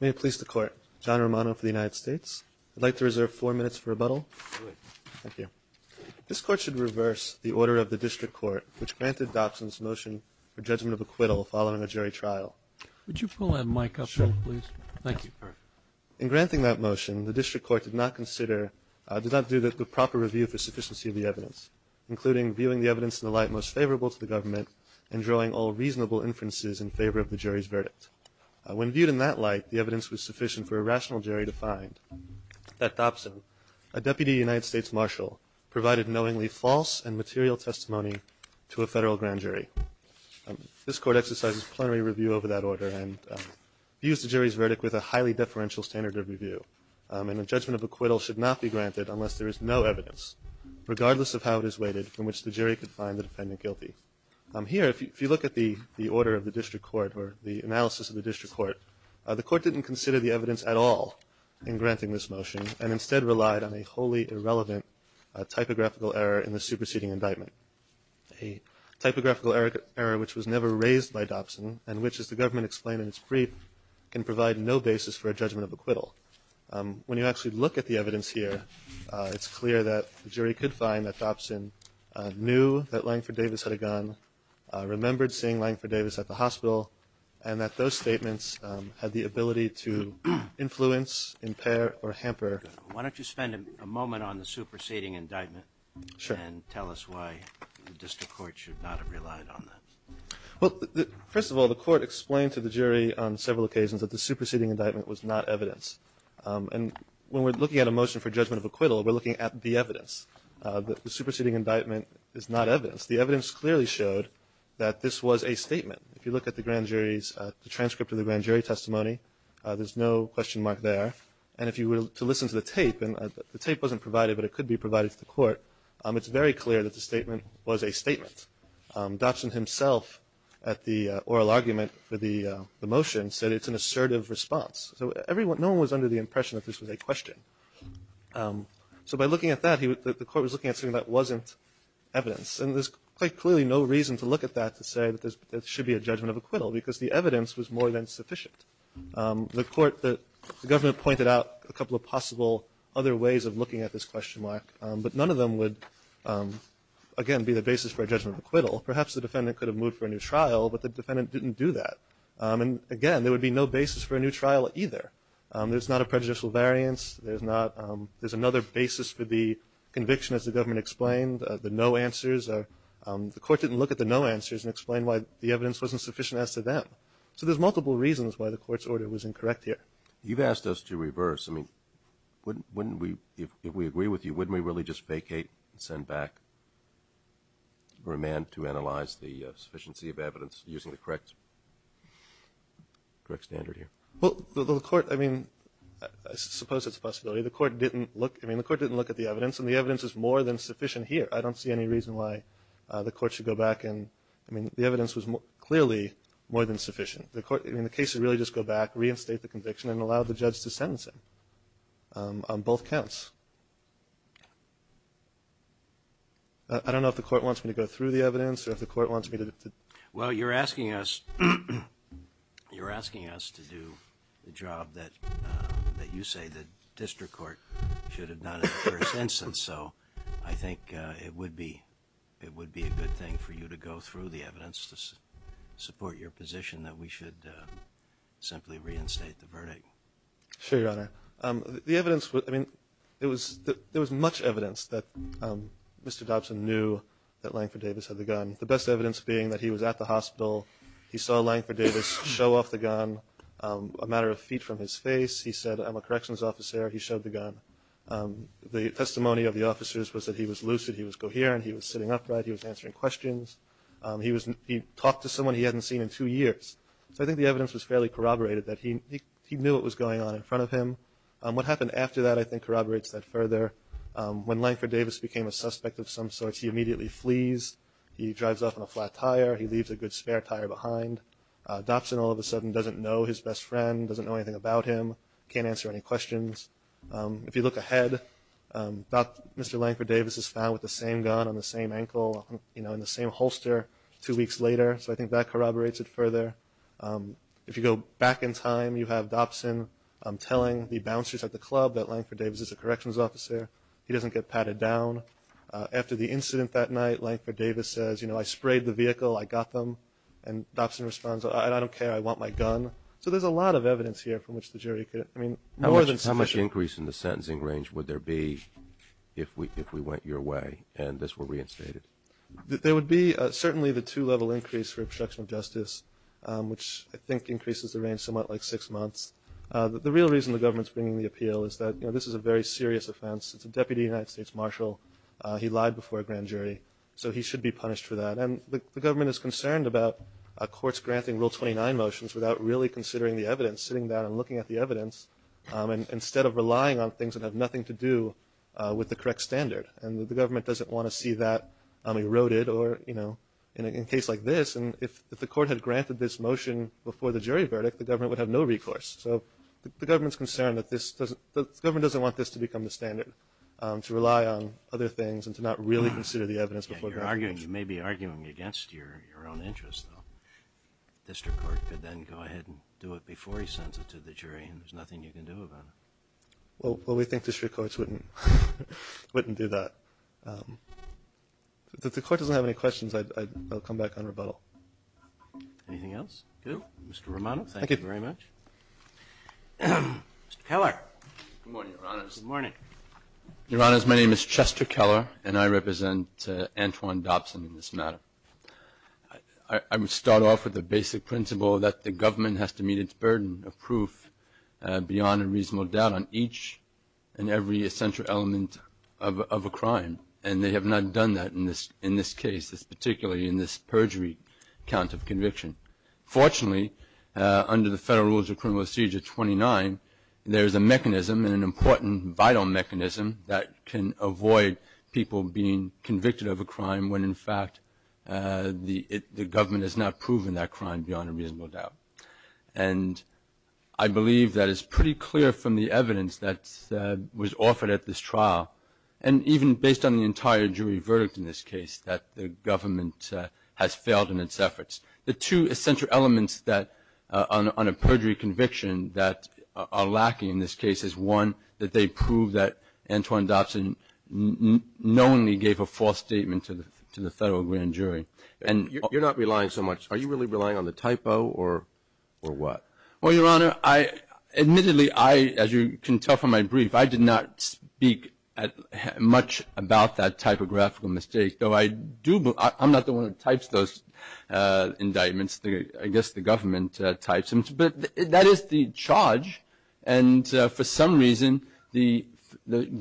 May it please the Court, John Romano for the United States. I'd like to reserve four minutes for rebuttal. This Court should reverse the order of the District Court which granted Dobson's motion for judgment of acquittal following a jury trial. In granting that motion, the District Court did not do the proper review for sufficiency of the evidence, including viewing the evidence in the light most favorable to the government and drawing all reasonable inferences in favor of the jury's verdict. When viewed in that light, the evidence was sufficient for a rational jury to find that Dobson, a Deputy United States Marshal, provided knowingly false and material testimony to a federal grand jury. This Court exercises plenary review over that order and views the jury's verdict with a highly deferential standard of review. And a judgment of acquittal should not be granted unless there is no evidence, regardless of how it is weighted, from which the jury could find the defendant guilty. Here, if you look at the order of the District Court or the analysis of the District Court, the Court didn't consider the evidence at all in granting this motion and instead relied on a wholly irrelevant typographical error in the superseding indictment. A typographical error which was never raised by Dobson and which, as the government explained in its brief, can provide no basis for a judgment of acquittal. When you actually look at the evidence, the jury could find that Dobson knew that Langford Davis had a gun, remembered seeing Langford Davis at the hospital, and that those statements had the ability to influence, impair, or hamper. Why don't you spend a moment on the superseding indictment and tell us why the District Court should not have relied on that? Well, first of all, the Court explained to the jury on several occasions that the superseding indictment was not evidence. And when we're looking at a motion for judgment of acquittal, we're looking at the evidence. The superseding indictment is not evidence. The evidence clearly showed that this was a statement. If you look at the transcript of the grand jury testimony, there's no question mark there. And if you were to listen to the tape, and the tape wasn't provided but it could be provided to the Court, it's very clear that the statement was a statement. Dobson himself, at the oral argument for the motion, said it's an assertive response. So by looking at that, the Court was looking at something that wasn't evidence. And there's quite clearly no reason to look at that to say that there should be a judgment of acquittal because the evidence was more than sufficient. The Court, the government pointed out a couple of possible other ways of looking at this question mark, but none of them would, again, be the basis for a judgment of acquittal. Perhaps the defendant could have moved for a new trial, but the defendant didn't do that. And again, there would be no basis for a new conviction as the government explained, the no answers. The Court didn't look at the no answers and explain why the evidence wasn't sufficient as to them. So there's multiple reasons why the Court's order was incorrect here. You've asked us to reverse. I mean, wouldn't we, if we agree with you, wouldn't we really just vacate and send back a remand to analyze the sufficiency of evidence using the correct standard here? Well, the Court, I mean, I suppose it's a possibility. The Court didn't look, I mean, the Court didn't look at the evidence, and the evidence is more than sufficient here. I don't see any reason why the Court should go back and, I mean, the evidence was clearly more than sufficient. The Court, I mean, the case would really just go back, reinstate the conviction, and allow the judge to sentence him on both counts. I don't know if the Court wants me to go through the evidence or if the Court wants me to. Well, you're asking us, you're asking us to do the job that, that you say the district court should have done in the first instance, so I think it would be, it would be a good thing for you to go through the evidence to support your position that we should simply reinstate the verdict. Sure, Your Honor. The evidence was, I mean, it was, there was much evidence that Mr. Dobson knew that Langford Davis had the gun. The best evidence being that he was at the hospital. He saw Langford Davis show off the gun a matter of feet from his face. He said, I'm a corrections officer, he showed the gun. The testimony of the officers was that he was lucid, he was coherent, he was sitting upright, he was answering questions. He was, he talked to someone he hadn't seen in two years. So I think the evidence was fairly corroborated that he, he knew what was going on in front of him. What happened after that I think corroborates that further. When Langford Davis became a suspect of some sort, he immediately flees. He drives off on a flat tire. He leaves a good spare tire behind. Dobson all of a sudden doesn't know his best friend, doesn't know anything about him, can't answer any questions. If you look ahead, Mr. Langford Davis is found with the same gun on the same ankle, you know, in the same holster two weeks later. So I think that corroborates it further. If you go back in time, you have Dobson telling the bouncers at the club that Langford Davis is a corrections officer. He doesn't get patted down. After the incident that night, Langford Davis says, you know, I sprayed the vehicle, I got them. And Dobson responds, I don't care, I want my gun. So there's a lot of evidence here from which the jury could, I mean, more than sufficient. How much increase in the sentencing range would there be if we, if we went your way and this were reinstated? There would be certainly the two-level increase for obstruction of justice, which I think increases the range somewhat like six months. The real reason the government's bringing the appeal is that, you know, this is a very serious offense. It's a deputy United States marshal. He lied before a grand jury. So he should be punished for that. And the government is concerned about courts granting Rule 29 motions without really considering the evidence, sitting down and looking at the evidence, instead of relying on things that have nothing to do with the correct standard. And the government doesn't want to see that eroded or, you know, in a case like this. And if the court had granted this motion before the jury verdict, the government would have no recourse. So the government's concerned that this doesn't, the government doesn't want this to become the standard to rely on other things and to not really consider the evidence before the grand jury. You may be arguing against your own interests, though. The district court could then go ahead and do it before he sends it to the jury, and there's nothing you can do about it. Well, we think district courts wouldn't do that. If the court doesn't have any questions, I'll come back on rebuttal. Anything else? Good. Mr. Romano, thank you very much. Thank you. Mr. Keller. Good morning, Your Honors. Good morning. Your Honors, my name is Chester Keller, and I represent Antoine Dobson in this matter. I would start off with the basic principle that the government has to meet its burden of proof beyond a reasonable doubt on each and every essential element of a crime. And they have not done that in this case, particularly in this perjury count of conviction. Fortunately, under the Federal Rules of Criminal Excedure 29, there is a mechanism, and an important vital mechanism, that can avoid people being convicted of a crime when, in fact, the government has not proven that crime beyond a reasonable doubt. And I believe that it's pretty clear from the evidence that was offered at this trial, and even based on the entire jury verdict in this case, that the government has failed in its efforts. The two essential elements on a perjury conviction that are lacking in this case is, one, that they prove that Antoine Dobson knowingly gave a false statement to the Federal Grand Jury. You're not relying so much. Are you really relying on the typo, or what? Well, Your Honor, admittedly, as you can tell from my brief, I did not speak much about that typographical mistake. I'm not the one who types those indictments. I guess the government types them. But that is the charge, and for some reason, the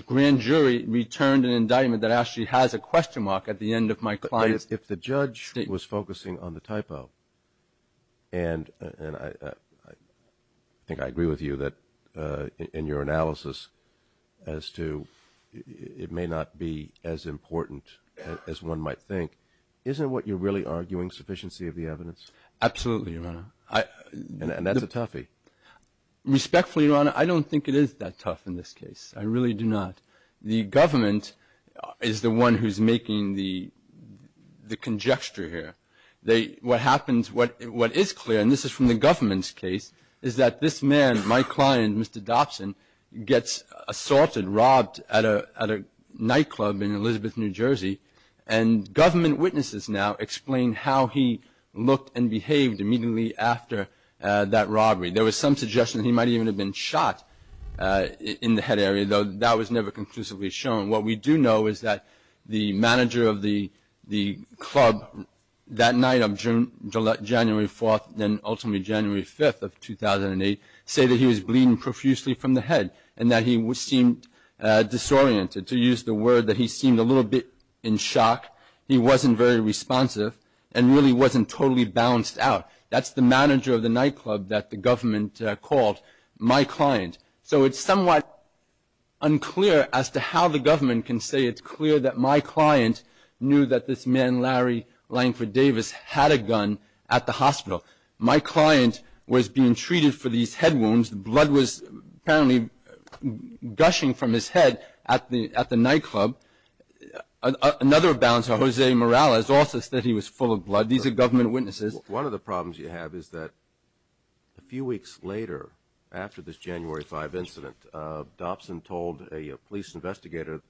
grand jury returned an indictment that actually has a question mark at the end of my client's statement. If the judge was focusing on the typo, and I think I agree with you in your analysis, as to it may not be as important as one might think, isn't what you're really arguing sufficiency of the evidence? Absolutely, Your Honor. And that's a toughie. Respectfully, Your Honor, I don't think it is that tough in this case. I really do not. The government is the one who's making the conjecture here. What happens, what is clear, and this is from the government's case, is that this man, my client, Mr. Dobson, gets assaulted, robbed at a nightclub in Elizabeth, New Jersey, and government witnesses now explain how he looked and behaved immediately after that robbery. There was some suggestion that he might even have been shot in the head area, though that was never conclusively shown. What we do know is that the manager of the club that night on January 4th, then ultimately January 5th of 2008, said that he was bleeding profusely from the head and that he seemed disoriented, to use the word that he seemed a little bit in shock. He wasn't very responsive and really wasn't totally balanced out. That's the manager of the nightclub that the government called my client. So it's somewhat unclear as to how the government can say it's clear that my client knew that this man, Larry Langford Davis, had a gun at the hospital. My client was being treated for these head wounds. Blood was apparently gushing from his head at the nightclub. Another balance, Jose Morales, also said he was full of blood. These are government witnesses. One of the problems you have is that a few weeks later, after this January 5th incident, Dobson told a police investigator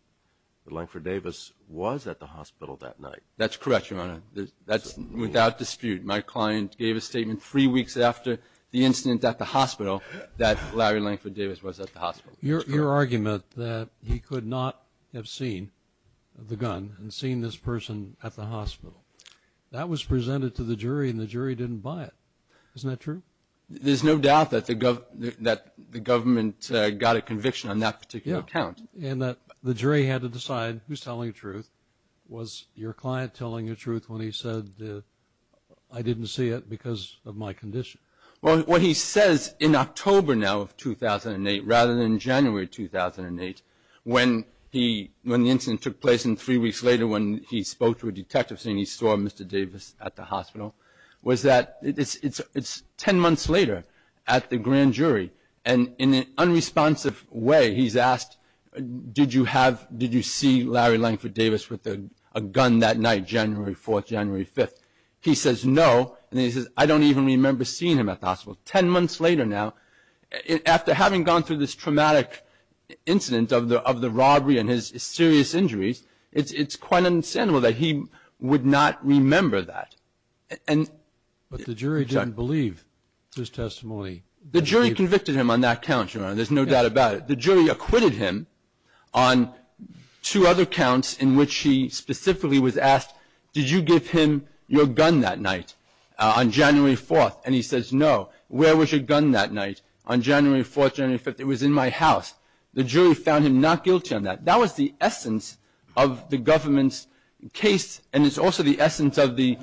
that Langford Davis was at the hospital that night. That's correct, Your Honor. That's without dispute. My client gave a statement three weeks after the incident at the hospital that Larry Langford Davis was at the hospital. Your argument that he could not have seen the gun and seen this person at the hospital, that was presented to the jury and the jury didn't buy it. Isn't that true? There's no doubt that the government got a conviction on that particular account. And the jury had to decide who's telling the truth. Was your client telling the truth when he said, I didn't see it because of my condition? Well, what he says in October now of 2008, rather than January 2008, when the incident took place and three weeks later when he spoke to a detective saying he saw Mr. Davis at the hospital, was that it's ten months later at the grand jury. And in an unresponsive way, he's asked, did you see Larry Langford Davis with a gun that night, January 4th, January 5th? He says, no. And he says, I don't even remember seeing him at the hospital. Ten months later now, after having gone through this traumatic incident of the robbery and his serious injuries, it's quite understandable that he would not remember that. But the jury didn't believe his testimony. The jury convicted him on that count, Your Honor. There's no doubt about it. The jury acquitted him on two other counts in which he specifically was asked, did you give him your gun that night on January 4th? And he says, no. Where was your gun that night on January 4th, January 5th? It was in my house. The jury found him not guilty on that. That was the essence of the government's case, and it's also the essence of the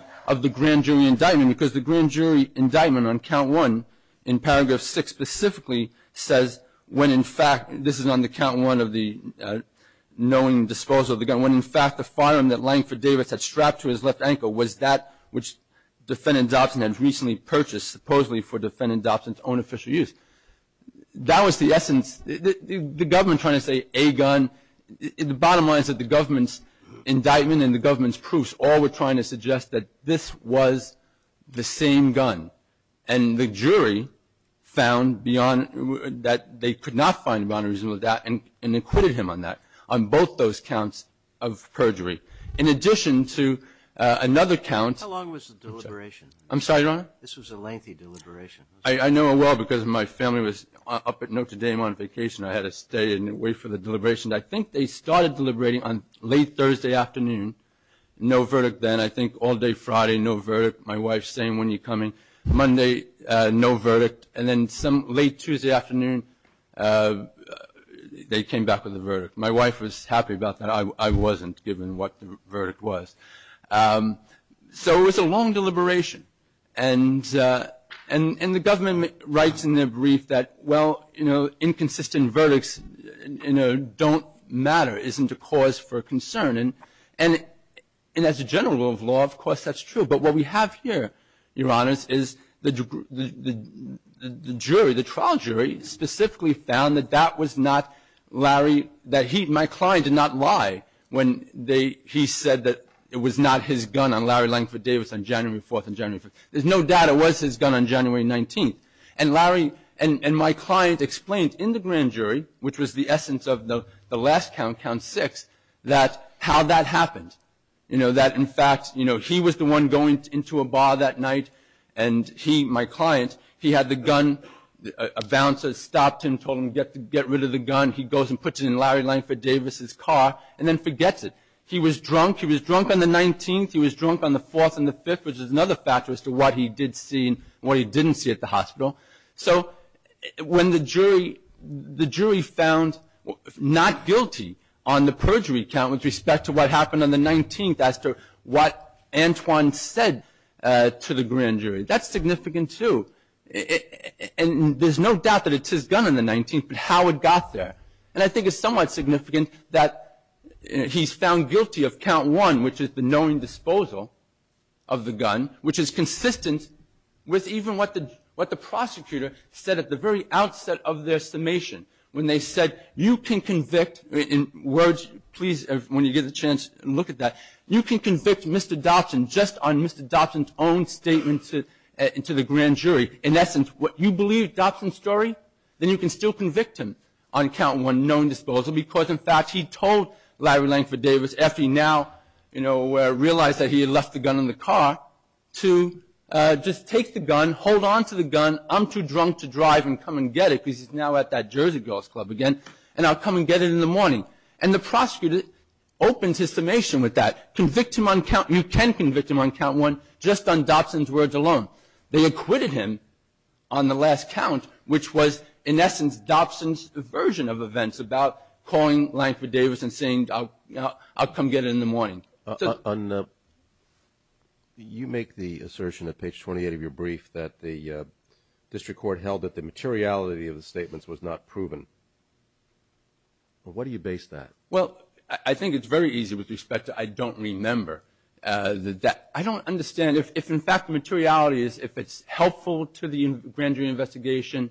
grand jury indictment, because the grand jury indictment on count one in paragraph six specifically says, when in fact this is on the count one of the knowing disposal of the gun, when in fact the firearm that Langford Davis had strapped to his left ankle was that which defendant Dobson had recently purchased supposedly for defendant Dobson's own official use. That was the essence. The government trying to say a gun, the bottom line is that the government's indictment and the government's proofs all were trying to suggest that this was the same gun. And the jury found beyond that they could not find a boundary reasonable doubt and acquitted him on that, on both those counts of perjury. In addition to another count. How long was the deliberation? I'm sorry, Your Honor? This was a lengthy deliberation. I know it well because my family was up at Notre Dame on vacation. I had to stay and wait for the deliberation. I think they started deliberating on late Thursday afternoon. No verdict then. I think all day Friday, no verdict. My wife saying, when are you coming? Monday, no verdict. And then late Tuesday afternoon they came back with a verdict. My wife was happy about that. I wasn't, given what the verdict was. So it was a long deliberation. And the government writes in their brief that, well, you know, inconsistent verdicts, you know, don't matter, isn't a cause for concern. And as a general rule of law, of course, that's true. But what we have here, Your Honors, is the jury, the trial jury specifically found that that was not Larry, that he, my client, did not lie when he said that it was not his gun on Larry Langford Davis on January 4th and January 5th. There's no doubt it was his gun on January 19th. And Larry and my client explained in the grand jury, which was the essence of the last count, count six, that how that happened, you know, that in fact, you know, he was the one going into a bar that night and he, my client, he had the gun. A bouncer stopped him, told him to get rid of the gun. He goes and puts it in Larry Langford Davis' car and then forgets it. He was drunk. He was drunk on the 19th. He was drunk on the 4th and the 5th, which is another factor as to what he did see and what he didn't see at the hospital. So when the jury found not guilty on the perjury count with respect to what happened on the 19th as to what Antoine said to the grand jury, that's significant, too. And there's no doubt that it's his gun on the 19th, but how it got there. And I think it's somewhat significant that he's found guilty of count one, which is the knowing disposal of the gun, which is consistent with even what the prosecutor said at the very outset of their summation when they said, you can convict, in words, please, when you get the chance, look at that, you can convict Mr. Dobson just on Mr. Dobson's own statement to the grand jury. In essence, you believe Dobson's story, then you can still convict him on count one, knowing disposal, because, in fact, he told Larry Langford Davis after he now realized that he had left the gun in the car to just take the gun, hold on to the gun. I'm too drunk to drive and come and get it because he's now at that Jersey Girls Club again, and I'll come and get it in the morning. And the prosecutor opens his summation with that. You can convict him on count one just on Dobson's words alone. They acquitted him on the last count, which was, in essence, Dobson's version of events about calling Langford Davis and saying, I'll come get it in the morning. You make the assertion at page 28 of your brief that the district court held that the materiality of the statements was not proven. What do you base that? Well, I think it's very easy with respect to I don't remember. I don't understand. If, in fact, the materiality is if it's helpful to the grand jury investigation,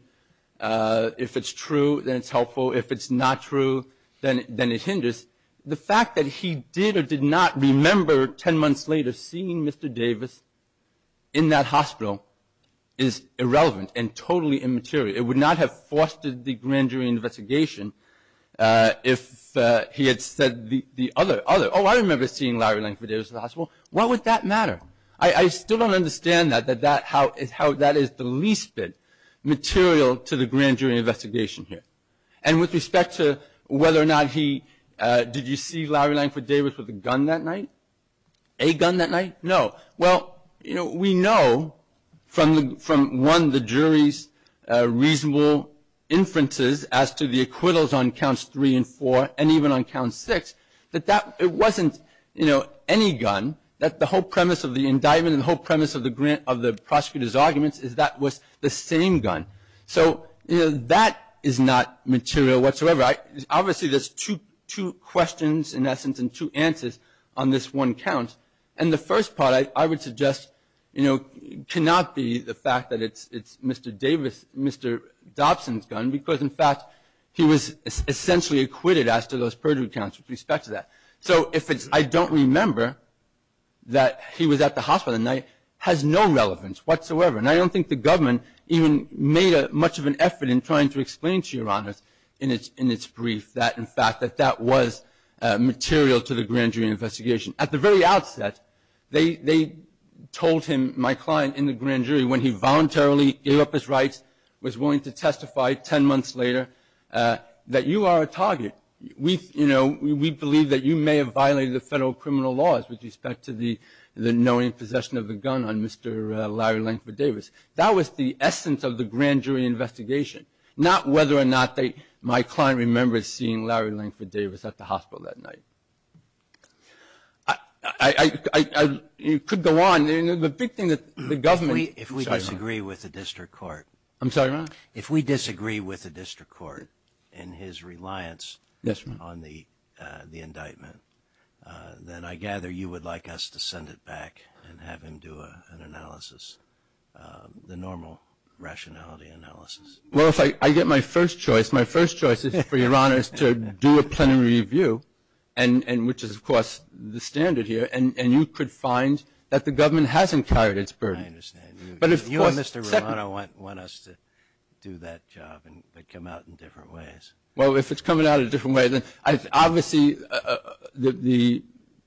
if it's true, then it's helpful. If it's not true, then it hinders. The fact that he did or did not remember 10 months later seeing Mr. Davis in that hospital is irrelevant and totally immaterial. It would not have fostered the grand jury investigation if he had said the other. Oh, I remember seeing Larry Langford Davis in the hospital. Why would that matter? I still don't understand how that is the least bit material to the grand jury investigation here. And with respect to whether or not he did receive Larry Langford Davis with a gun that night, a gun that night, no. Well, we know from, one, the jury's reasonable inferences as to the acquittals on counts three and four and even on count six that it wasn't any gun, that the whole premise of the indictment and the whole premise of the prosecutor's arguments is that was the same gun. So that is not material whatsoever. Obviously, there's two questions, in essence, and two answers on this one count. And the first part, I would suggest, cannot be the fact that it's Mr. Dobson's gun because, in fact, he was essentially acquitted as to those perjury counts with respect to that. So if it's I don't remember that he was at the hospital that night has no relevance whatsoever. And I don't think the government even made much of an effort in trying to explain to Your Honors in its brief that, in fact, that that was material to the grand jury investigation. At the very outset, they told him, my client in the grand jury, when he voluntarily gave up his rights, was willing to testify 10 months later that you are a target. We, you know, we believe that you may have violated the federal criminal laws with respect to the knowing possession of the gun on Mr. Larry Langford Davis. That was the essence of the grand jury investigation, not whether or not my client remembers seeing Larry Langford Davis at the hospital that night. I could go on. The big thing that the government. If we disagree with the district court. I'm sorry, Your Honor. If we disagree with the district court in his reliance on the indictment, then I gather you would like us to send it back and have him do an analysis, the normal rationality analysis. Well, if I get my first choice, my first choice is for Your Honors to do a plenary review, which is, of course, the standard here, and you could find that the government hasn't carried its burden. I understand. You and Mr. Romano want us to do that job and come out in different ways. Well, if it's coming out a different way, then obviously the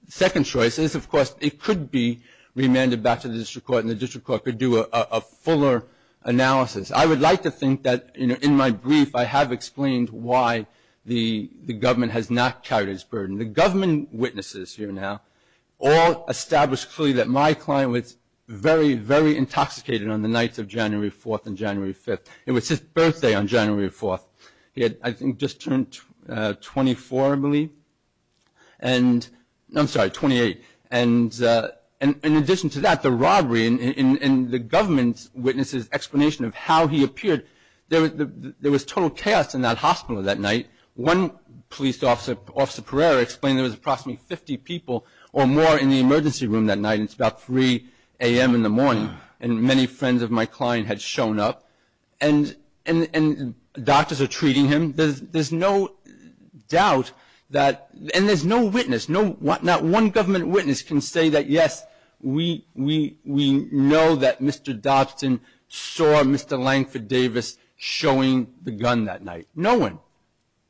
second choice is, of course, it could be remanded back to the district court and the district court could do a fuller analysis. I would like to think that in my brief I have explained why the government has not carried its burden. The government witnesses here now all established clearly that my client was very, very intoxicated on the nights of January 4th and January 5th. It was his birthday on January 4th. He had, I think, just turned 24, I believe. I'm sorry, 28. In addition to that, the robbery and the government's witnesses' explanation of how he appeared, there was total chaos in that hospital that night. One police officer, Officer Pereira, explained there was approximately 50 people or more in the emergency room that night. It's about 3 a.m. in the morning, and many friends of my client had shown up, and doctors are treating him. There's no doubt that, and there's no witness. Not one government witness can say that, yes, we know that Mr. Dobson saw Mr. Langford Davis showing the gun that night. No one.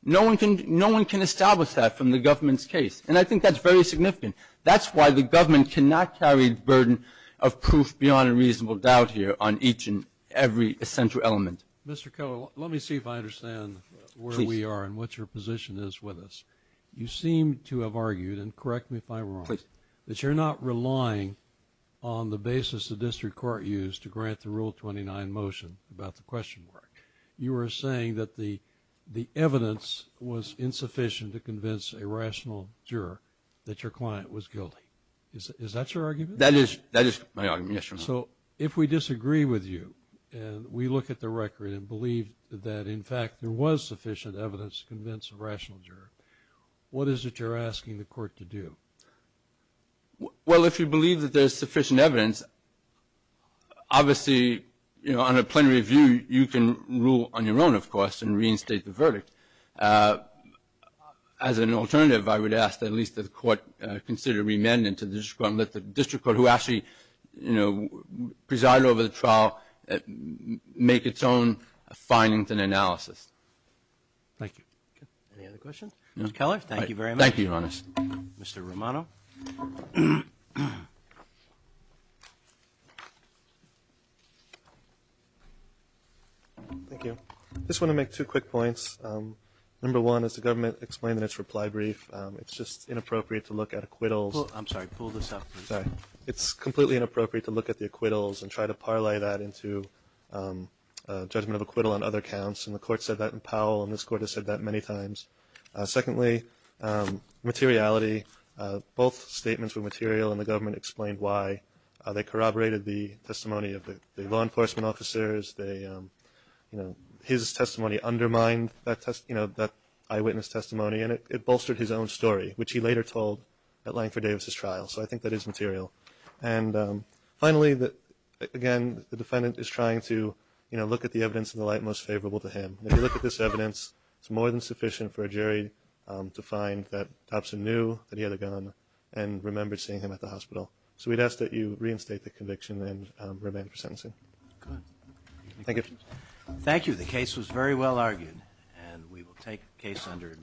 No one can establish that from the government's case, and I think that's very significant. That's why the government cannot carry the burden of proof beyond a reasonable doubt here on each and every essential element. Mr. Coe, let me see if I understand where we are and what your position is with us. You seem to have argued, and correct me if I'm wrong, that you're not relying on the basis the district court used to grant the Rule 29 motion about the question mark. You are saying that the evidence was insufficient to convince a rational juror that your client was guilty. Is that your argument? That is my argument, yes, Your Honor. So if we disagree with you and we look at the record and believe that, in fact, there was sufficient evidence to convince a rational juror, what is it you're asking the court to do? Well, if you believe that there's sufficient evidence, obviously, you know, on a plenary review, you can rule on your own, of course, and reinstate the verdict. As an alternative, I would ask that at least the court consider remanding to the district court and let the district court, who actually presided over the trial, make its own findings and analysis. Thank you. Any other questions? Mr. Keller, thank you very much. Thank you, Your Honor. Mr. Romano. Thank you. I just want to make two quick points. Number one, as the government explained in its reply brief, it's just inappropriate to look at acquittals. I'm sorry, pull this up. Sorry. It's completely inappropriate to look at the acquittals and try to parlay that into judgment of acquittal on other counts. And the court said that in Powell, and this court has said that many times. Secondly, materiality. Both statements were material, and the government explained why. They corroborated the testimony of the law enforcement officers. His testimony undermined that eyewitness testimony, and it bolstered his own story, which he later told at Langford Davis' trial. So I think that is material. And finally, again, the defendant is trying to look at the evidence in the light most favorable to him. If you look at this evidence, it's more than sufficient for a jury to find that Dobson knew that he had a gun and remembered seeing him at the hospital. So we'd ask that you reinstate the conviction and remain for sentencing. Good. Thank you. Thank you. The case was very well argued, and we will take the case under advisement.